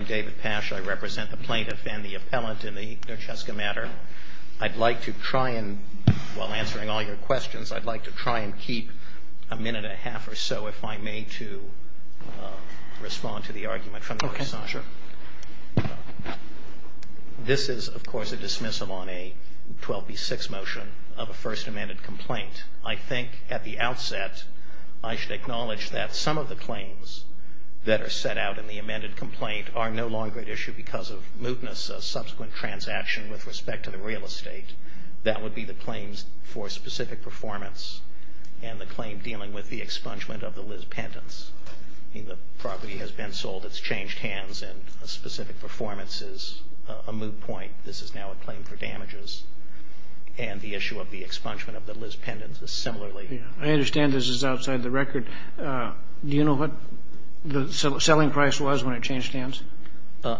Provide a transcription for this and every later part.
I'm David Pash. I represent the plaintiff and the appellant in the Nurczewska matter. I'd like to try and, while answering all your questions, I'd like to try and keep a minute and a half or so, if I may, to respond to the argument from the Orsazer. This is, of course, a dismissal on a 12B6 motion of a first amended complaint. I think, at the outset, I should acknowledge that some of the claims that are set out in the amended complaint are no longer at issue because of mootness, a subsequent transaction with respect to the real estate. That would be the claims for specific performance and the claim dealing with the expungement of the Liz pendants. The property has been sold, it's changed hands, and a specific performance is a moot point. This is now a claim for damages. And the issue of the expungement of the Liz pendants is similarly. I understand this is outside the record. Do you know what the selling price was when it changed hands?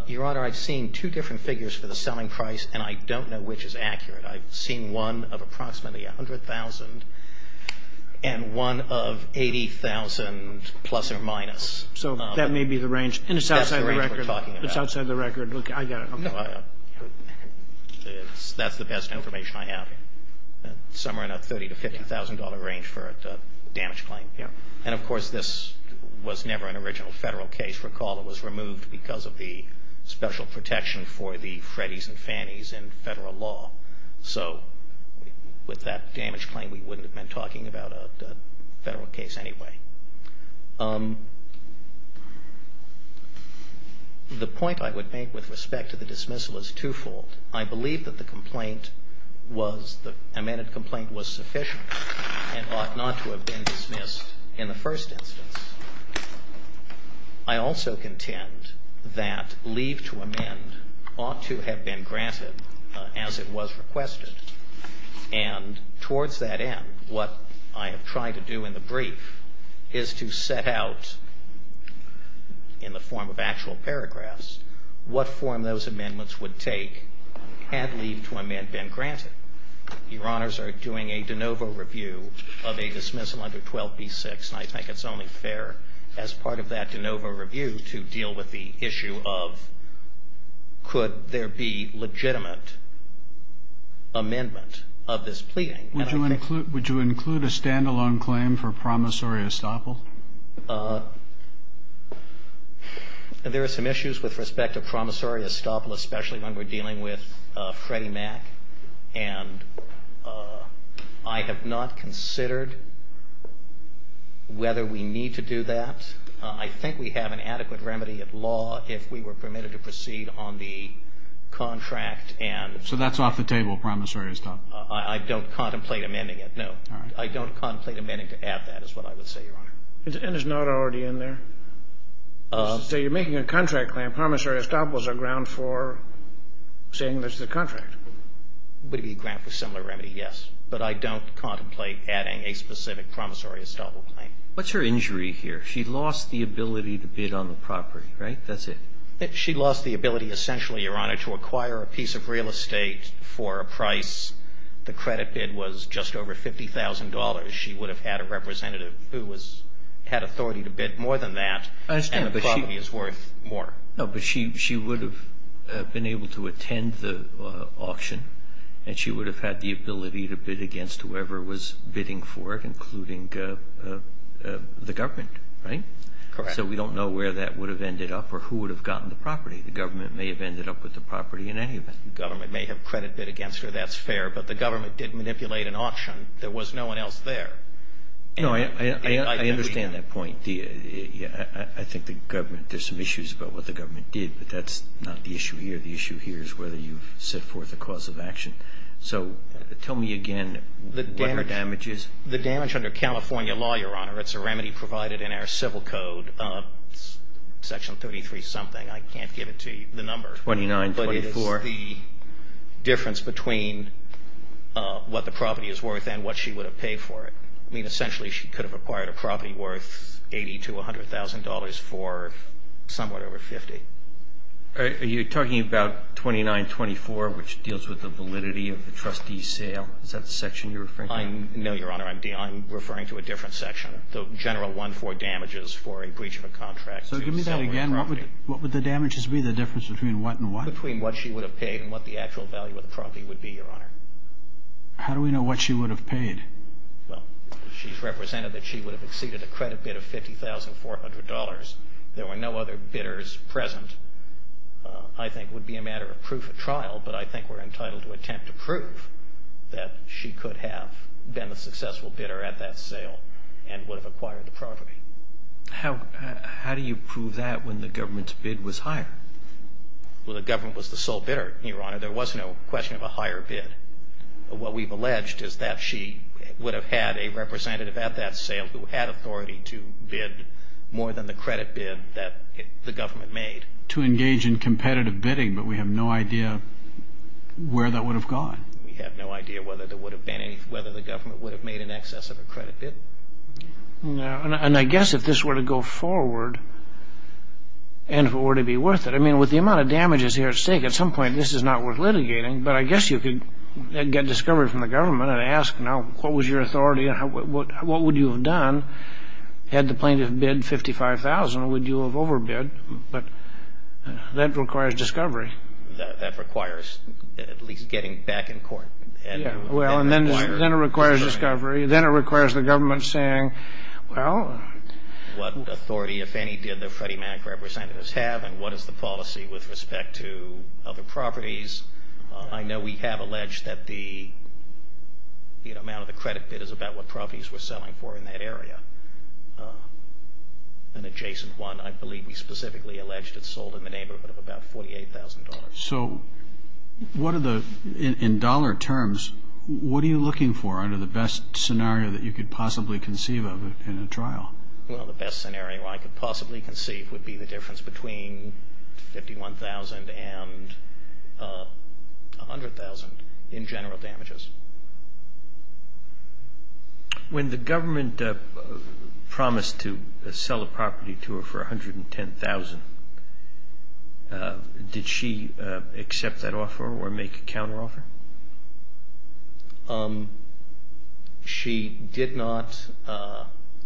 Your Honor, I've seen two different figures for the selling price, and I don't know which is accurate. I've seen one of approximately $100,000 and one of $80,000 plus or minus. So that may be the range, and it's outside the record. That's the range we're talking about. It's outside the record. I got it. That's the best information I have. Somewhere in that $30,000 to $50,000 range for a damage claim. And, of course, this was never an original Federal case. Recall it was removed because of the special protection for the Freddies and Fannies in Federal law. So with that damage claim, we wouldn't have been talking about a Federal case anyway. The point I would make with respect to the dismissal is twofold. I believe that the complaint was the amended complaint was sufficient and ought not to have been dismissed in the first instance. I also contend that leave to amend ought to have been granted as it was requested. And towards that end, what I have tried to do in the brief is to set out, in the form of actual paragraphs, what form those amendments would take had leave to amend been granted. Your Honors are doing a de novo review of a dismissal under 12b-6, and I think it's only fair as part of that de novo review to deal with the issue of, could there be legitimate amendment of this pleading? Would you include a stand-alone claim for promissory estoppel? There are some issues with respect to promissory estoppel, especially when we're dealing with Freddie Mac. And I have not considered whether we need to do that. I think we have an adequate remedy at law if we were permitted to proceed on the contract and So that's off the table, promissory estoppel? I don't contemplate amending it, no. All right. I don't contemplate amending to add that, is what I would say, Your Honor. And it's not already in there? So you're making a contract claim, promissory estoppel is a ground for saying this is a contract? Would it be a grant for similar remedy? Yes. But I don't contemplate adding a specific promissory estoppel claim. What's her injury here? She lost the ability to bid on the property, right? That's it. She lost the ability essentially, Your Honor, to acquire a piece of real estate for a price. The credit bid was just over $50,000. She would have had a representative who was, had authority to bid more than that. I understand. And the property is worth more. No, but she would have been able to attend the auction, and she would have had the ability to bid against whoever was bidding for it, including the government, right? Correct. So we don't know where that would have ended up or who would have gotten the property. The government may have ended up with the property in any event. The government may have credit bid against her. That's fair. But the government did manipulate an auction. There was no one else there. No, I understand that point. I think the government, there's some issues about what the government did, but that's not the issue here. The issue here is whether you've set forth a cause of action. So tell me again what her damage is. The damage under California law, Your Honor, it's a remedy provided in our civil code, Section 33-something. I can't give it to you, the number. 2924. But it is the difference between what the property is worth and what she would have paid for it. I mean, essentially, she could have acquired a property worth $80,000 to $100,000 for somewhat over $50,000. Are you talking about 2924, which deals with the validity of the trustee's sale? Is that the section you're referring to? No, Your Honor. I'm referring to a different section, the general one for damages for a breach of a contract. So give me that again. What would the damages be, the difference between what and what? Between what she would have paid and what the actual value of the property would be, Your Honor. How do we know what she would have paid? Well, she's represented that she would have exceeded a credit bid of $50,400. There were no other bidders present. I think it would be a matter of proof at trial, but I think we're entitled to attempt to prove that she could have been a successful bidder at that sale and would have acquired the property. How do you prove that when the government's bid was higher? Well, the government was the sole bidder, Your Honor. There was no question of a higher bid. What we've alleged is that she would have had a representative at that sale who had authority to bid more than the credit bid that the government made. To engage in competitive bidding, but we have no idea where that would have gone. We have no idea whether the government would have made an excess of a credit bid. No, and I guess if this were to go forward and if it were to be worth it, I mean, with the amount of damages here at stake, at some point this is not worth litigating, but I guess you could get discovery from the government and ask, now what was your authority and what would you have done had the plaintiff bid $55,000? Would you have overbid? But that requires discovery. That requires at least getting back in court. Yeah, well, and then it requires discovery. Then it requires the government saying, well... What authority, if any, did the Freddie Mac representatives have and what is the policy with respect to other properties? I know we have alleged that the amount of the credit bid is about what properties were selling for in that area, an adjacent one. I believe we specifically alleged it sold in the neighborhood of about $48,000. So in dollar terms, what are you looking for under the best scenario that you could possibly conceive of in a trial? Well, the best scenario I could possibly conceive would be the difference between $51,000 and $100,000 in general damages. When the government promised to sell a property to her for $110,000, did she accept that offer or make a counteroffer? She did not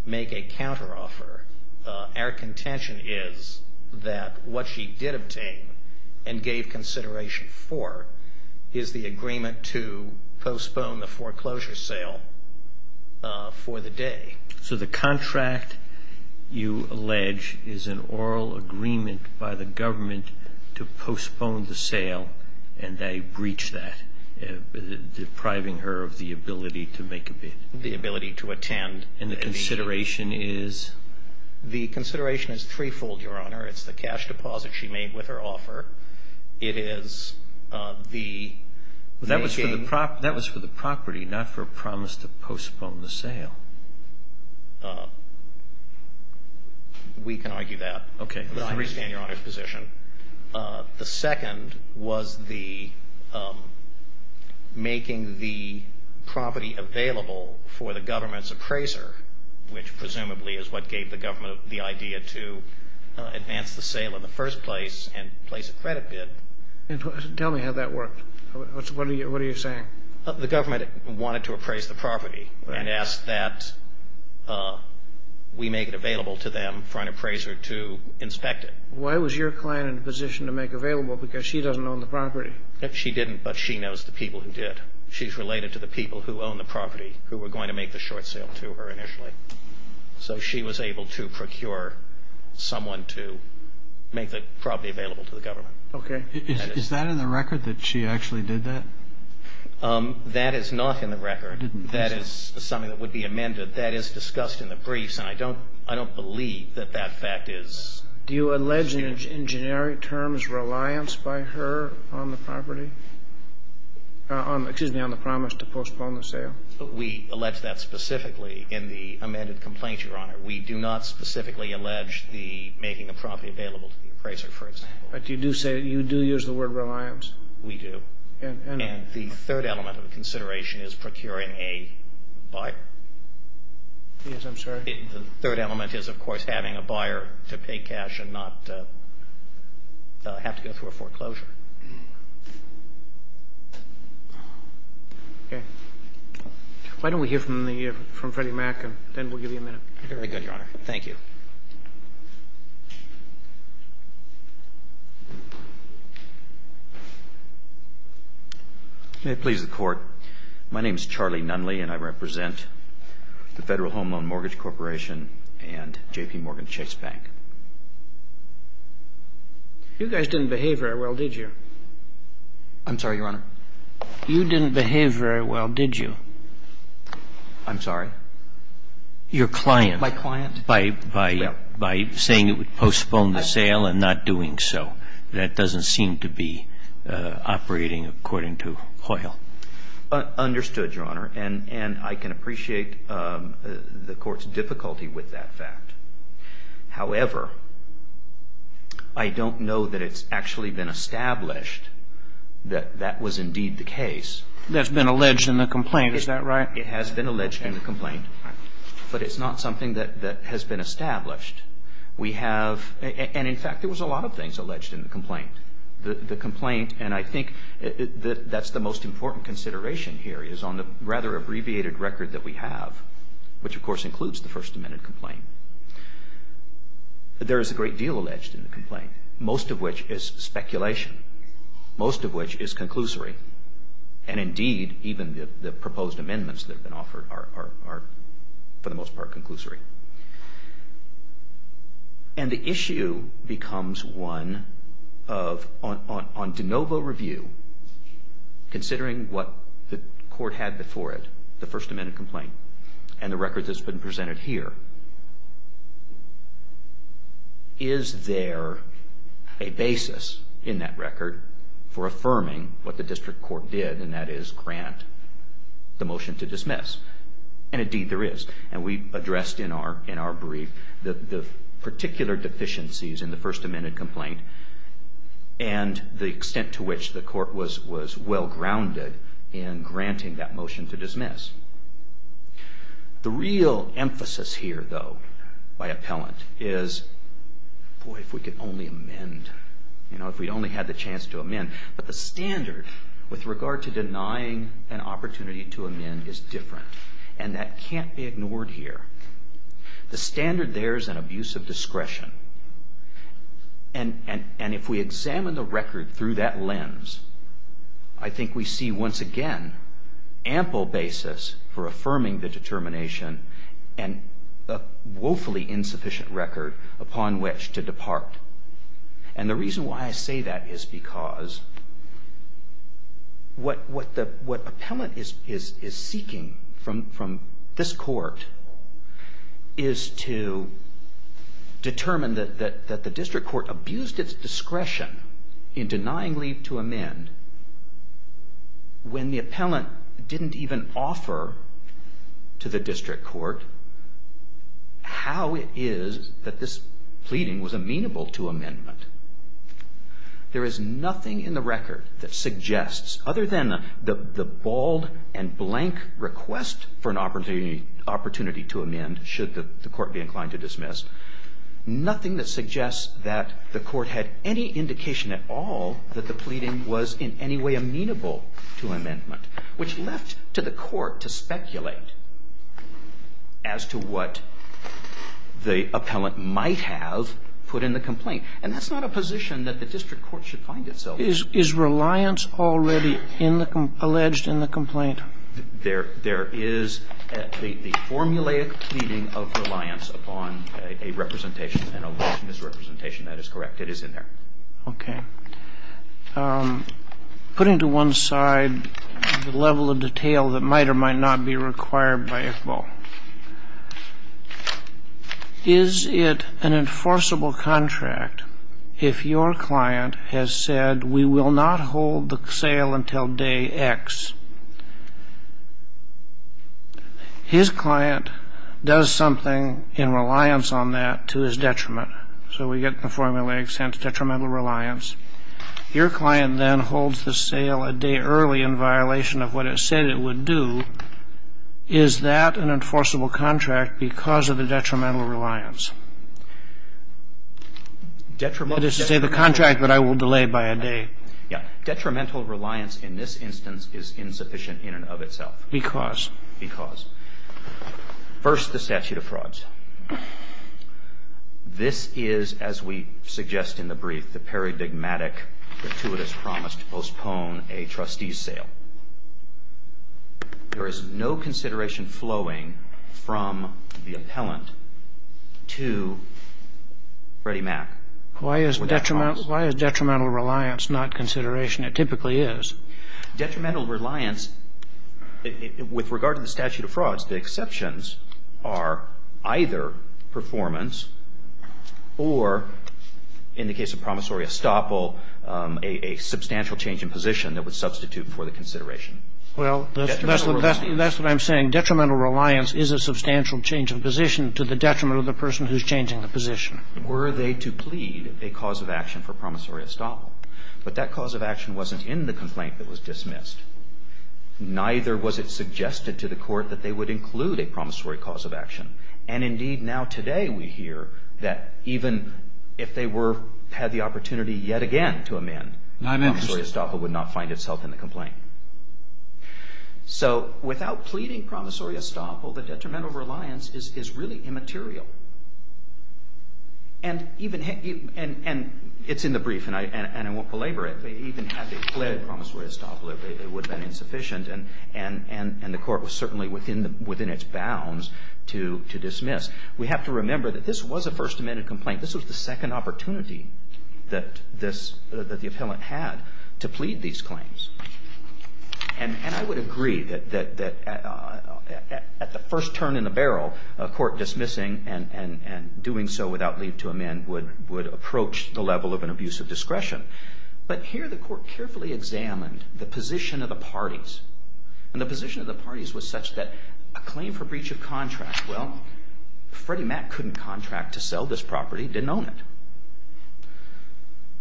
make a counteroffer. Our contention is that what she did obtain and gave consideration for is the agreement to postpone the foreclosure sale for the day. So the contract, you allege, is an oral agreement by the government to postpone the sale and they breached that, depriving her of the ability to make a bid. The ability to attend. And the consideration is? The consideration is threefold, Your Honor. It's the cash deposit she made with her offer. It is the making... That was for the property, not for a promise to postpone the sale. We can argue that. Okay. I understand Your Honor's position. The second was the making the property available for the government's appraiser, which presumably is what gave the government the idea to advance the sale in the first place and place a credit bid. Tell me how that worked. What are you saying? The government wanted to appraise the property and asked that we make it available to them for an appraiser to inspect it. Why was your client in a position to make available? Because she doesn't own the property. She didn't, but she knows the people who did. She's related to the people who own the property who were going to make the short sale to her initially. So she was able to procure someone to make the property available to the government. Okay. Is that in the record that she actually did that? That is not in the record. That is something that would be amended. That is discussed in the briefs, and I don't believe that that fact is... Do you allege in generic terms reliance by her on the property? Excuse me, on the promise to postpone the sale. We allege that specifically in the amended complaint, Your Honor. We do not specifically allege the making the property available to the appraiser, for example. But you do say that you do use the word reliance. We do. And the third element of the consideration is procuring a buyer. Yes, I'm sorry? The third element is, of course, having a buyer to pay cash and not have to go through a foreclosure. Okay. Why don't we hear from Freddie Mac, and then we'll give you a minute. Very good, Your Honor. Thank you. May it please the Court. My name is Charlie Nunley, and I represent the Federal Home Loan Mortgage Corporation and J.P. Morgan Chase Bank. You guys didn't behave very well, did you? I'm sorry, Your Honor? You didn't behave very well, did you? I'm sorry? Your client. My client. By saying it would postpone the sale and not doing so. That doesn't seem to be operating according to Hoyle. Understood, Your Honor. And I can appreciate the Court's difficulty with that fact. However, I don't know that it's actually been established that that was indeed the case. That's been alleged in the complaint. Is that right? It has been alleged in the complaint. But it's not something that has been established. And, in fact, there was a lot of things alleged in the complaint. The complaint, and I think that's the most important consideration here, is on the rather abbreviated record that we have, which, of course, includes the First Amendment complaint. There is a great deal alleged in the complaint, most of which is speculation, most of which is conclusory. And, indeed, even the proposed amendments that have been offered are, for the most part, conclusory. And the issue becomes one of, on de novo review, considering what the Court had before it, the First Amendment complaint, and the record that's been presented here, is there a basis in that record for affirming what the District Court did, and that is grant the motion to dismiss? And, indeed, there is. And we addressed in our brief the particular deficiencies in the First Amendment complaint and the extent to which the Court was well grounded in granting that motion to dismiss. The real emphasis here, though, by appellant, is, boy, if we could only amend. You know, if we'd only had the chance to amend. But the standard with regard to denying an opportunity to amend is different, and that can't be ignored here. The standard there is an abuse of discretion. And if we examine the record through that lens, I think we see, once again, ample basis for affirming the determination and a woefully insufficient record upon which to depart. And the reason why I say that is because what appellant is seeking from this Court is to determine that the District Court abused its discretion in denying leave to amend when the appellant didn't even offer to the District Court how it is that this pleading was amenable to amendment. There is nothing in the record that suggests, other than the bald and blank request for an opportunity to amend, should the Court be inclined to dismiss, nothing that suggests that the Court had any indication at all that the pleading was in any way amenable to amendment, which left to the Court to speculate as to what the appellant might have put in the complaint. And that's not a position that the District Court should find itself in. Is reliance already alleged in the complaint? There is the formulaic pleading of reliance upon a representation, an alleged misrepresentation. That is correct. It is in there. Okay. Putting to one side the level of detail that might or might not be required by ICBO, is it an enforceable contract if your client has said, we will not hold the sale until day X? His client does something in reliance on that to his detriment. So we get the formulaic sense, detrimental reliance. Your client then holds the sale a day early in violation of what it said it would do. Is that an enforceable contract because of the detrimental reliance? Detrimental. That is to say the contract that I will delay by a day. Yeah. Detrimental reliance in this instance is insufficient in and of itself. Because? Because. First, the statute of frauds. This is, as we suggest in the brief, the paradigmatic, gratuitous promise to postpone a trustee's sale. There is no consideration flowing from the appellant to Freddie Mac. Why is detrimental reliance not consideration? It typically is. Detrimental reliance, with regard to the statute of frauds, the exceptions are either performance or, in the case of promissory estoppel, a substantial change in position that would substitute for the consideration. Well, that's what I'm saying. Detrimental reliance is a substantial change in position to the detriment of the person who's changing the position. Were they to plead a cause of action for promissory estoppel. But that cause of action wasn't in the complaint that was dismissed. Neither was it suggested to the Court that they would include a promissory cause of action. And, indeed, now today we hear that even if they had the opportunity yet again to amend, promissory estoppel would not find itself in the complaint. So without pleading promissory estoppel, the detrimental reliance is really immaterial. And it's in the brief, and I won't belabor it, but even had they pleaded promissory estoppel, it would have been insufficient. And the Court was certainly within its bounds to dismiss. We have to remember that this was a First Amendment complaint. This was the second opportunity that the appellant had to plead these claims. And I would agree that at the first turn in the barrel, a court dismissing and doing so without leave to amend would approach the level of an abuse of discretion. But here the Court carefully examined the position of the parties. And the position of the parties was such that a claim for breach of contract, well, Freddie Mac couldn't contract to sell this property, didn't own it.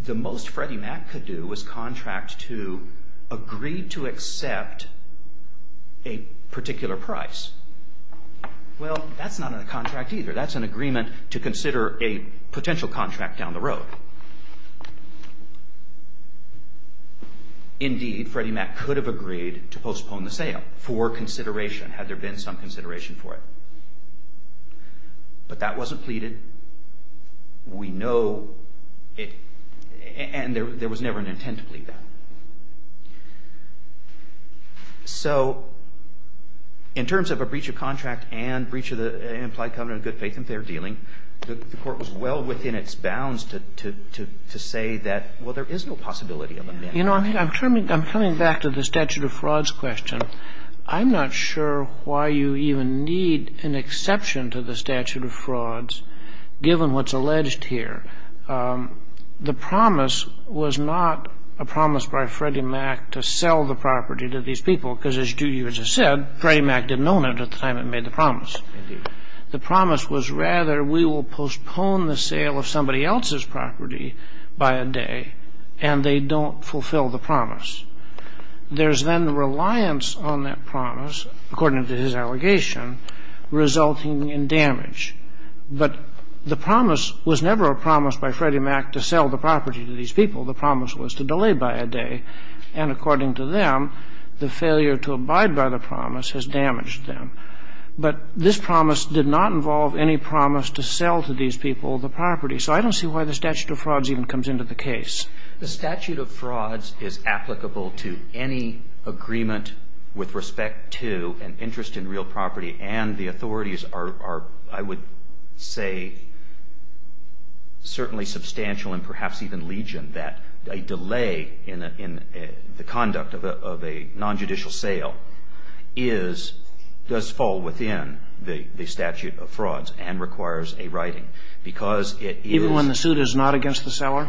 The most Freddie Mac could do was contract to agree to accept a particular price. Well, that's not a contract either. That's an agreement to consider a potential contract down the road. Indeed, Freddie Mac could have agreed to postpone the sale for consideration had there been some consideration for it. But that wasn't pleaded. We know it, and there was never an intent to plead that. So in terms of a breach of contract and breach of the implied covenant of good dealing, the Court was well within its bounds to say that, well, there is no possibility of amending it. You know, I'm coming back to the statute of frauds question. I'm not sure why you even need an exception to the statute of frauds given what's alleged here. The promise was not a promise by Freddie Mac to sell the property to these people, because as you just said, Freddie Mac didn't own it at the time it made the promise. Indeed. The promise was rather we will postpone the sale of somebody else's property by a day, and they don't fulfill the promise. There's then reliance on that promise, according to his allegation, resulting in damage. But the promise was never a promise by Freddie Mac to sell the property to these people. The promise was to delay by a day. And according to them, the failure to abide by the promise has damaged them. But this promise did not involve any promise to sell to these people the property. So I don't see why the statute of frauds even comes into the case. The statute of frauds is applicable to any agreement with respect to an interest in real property, and the authorities are, I would say, certainly substantial and perhaps even legion that a delay in the conduct of a nonjudicial sale is, does fall within the statute of frauds and requires a writing, because it is. Even when the suit is not against the seller?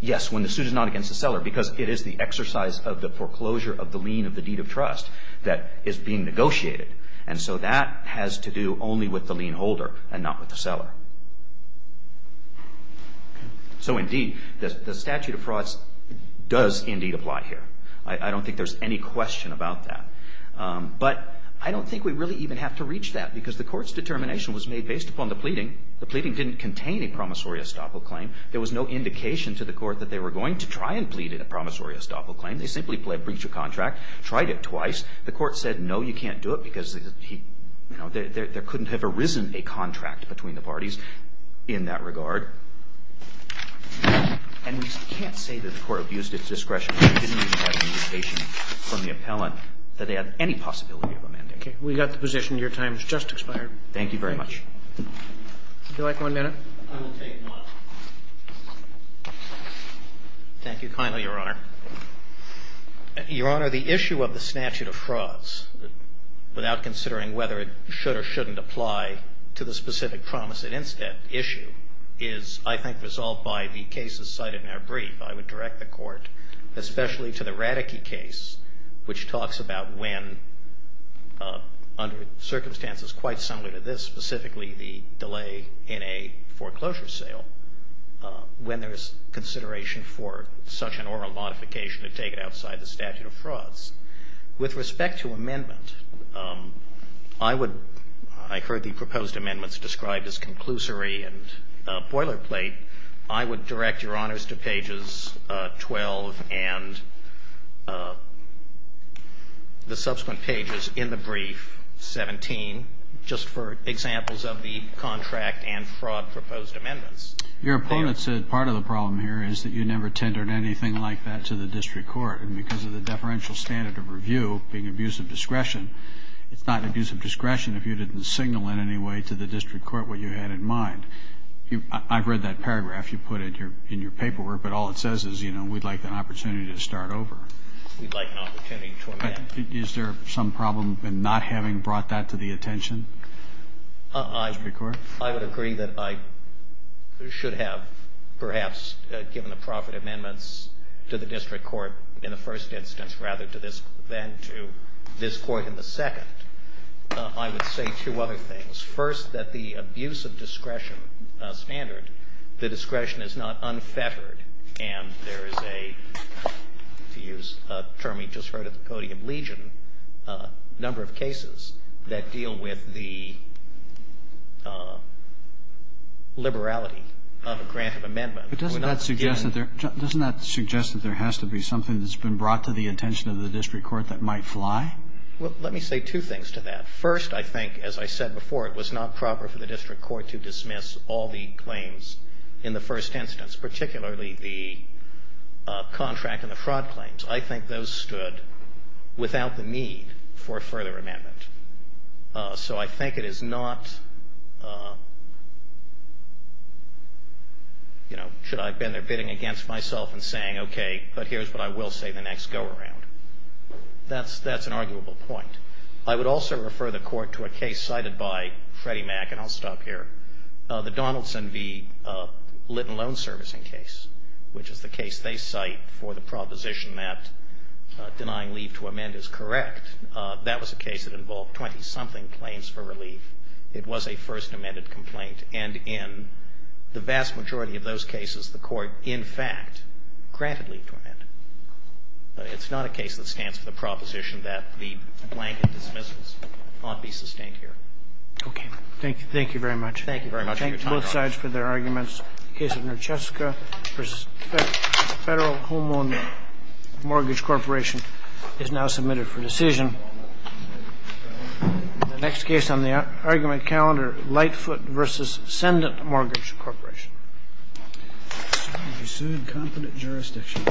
Yes, when the suit is not against the seller, because it is the exercise of the foreclosure of the lien of the deed of trust that is being negotiated. And so that has to do only with the lien holder and not with the seller. So indeed, the statute of frauds does indeed apply here. I don't think there's any question about that. But I don't think we really even have to reach that, because the Court's determination was made based upon the pleading. The pleading didn't contain a promissory estoppel claim. There was no indication to the Court that they were going to try and plead in a promissory estoppel claim. They simply pled breach of contract, tried it twice. The Court said, no, you can't do it, because there couldn't have arisen a contract between the parties in that regard. And we can't say that the Court abused its discretion. We didn't even have an indication from the appellant that they had any possibility of amending it. Okay. We got the position. Your time has just expired. Thank you very much. Would you like one minute? I will take one. Thank you kindly, Your Honor. Your Honor, the issue of the statute of frauds, without considering whether it should or shouldn't apply to the specific promise at instep issue, is, I think, resolved by the cases cited in our brief. I would direct the Court, especially to the Radeke case, which talks about when, under circumstances quite similar to this, specifically the delay in a foreclosure sale, when there is consideration for such an oral modification to take it outside the statute of frauds. With respect to amendment, I would – I heard the proposed amendments described as conclusory and boilerplate. I would direct Your Honors to pages 12 and the subsequent pages in the brief, 17, just for examples of the contract and fraud proposed amendments. Your opponent said part of the problem here is that you never tendered anything like that to the district court. And because of the deferential standard of review being abuse of discretion, it's not abuse of discretion if you didn't signal in any way to the district court what you had in mind. I've read that paragraph you put in your paperwork, but all it says is, you know, we'd like an opportunity to start over. We'd like an opportunity to amend. Is there some problem in not having brought that to the attention of the district court? I would agree that I should have perhaps given the profit amendments to the district court in the first instance rather than to this court in the second. I would say two other things. First, that the abuse of discretion standard, the discretion is not unfettered. And there is a, to use a term we just heard at the podium, legion number of cases that deal with the liberality of a grant of amendment. But doesn't that suggest that there has to be something that's been brought to the attention of the district court that might fly? Well, let me say two things to that. First, I think, as I said before, it was not proper for the district court to dismiss all the claims in the first instance, particularly the contract and the fraud claims. I think those stood without the need for a further amendment. So I think it is not, you know, should I have been there bidding against myself and saying, okay, but here's what I will say the next go around. That's an arguable point. I would also refer the court to a case cited by Freddie Mac, and I'll stop here, the Donaldson v. Litton loan servicing case, which is the case they cite for the proposition that denying leave to amend is correct. That was a case that involved 20-something claims for relief. It was a first amended complaint. And in the vast majority of those cases, the court, in fact, granted leave to amend. It's not a case that stands for the proposition that the blanket dismissals ought to be sustained here. Okay. Thank you. Thank you very much. Thank you very much for your time, Your Honor. I thank both sides for their arguments. The case of Nercheska v. Federal Homeowner Mortgage Corporation is now submitted for decision. The next case on the argument calendar, Lightfoot v. Sendant Mortgage Corporation. You're sued. Confident jurisdiction.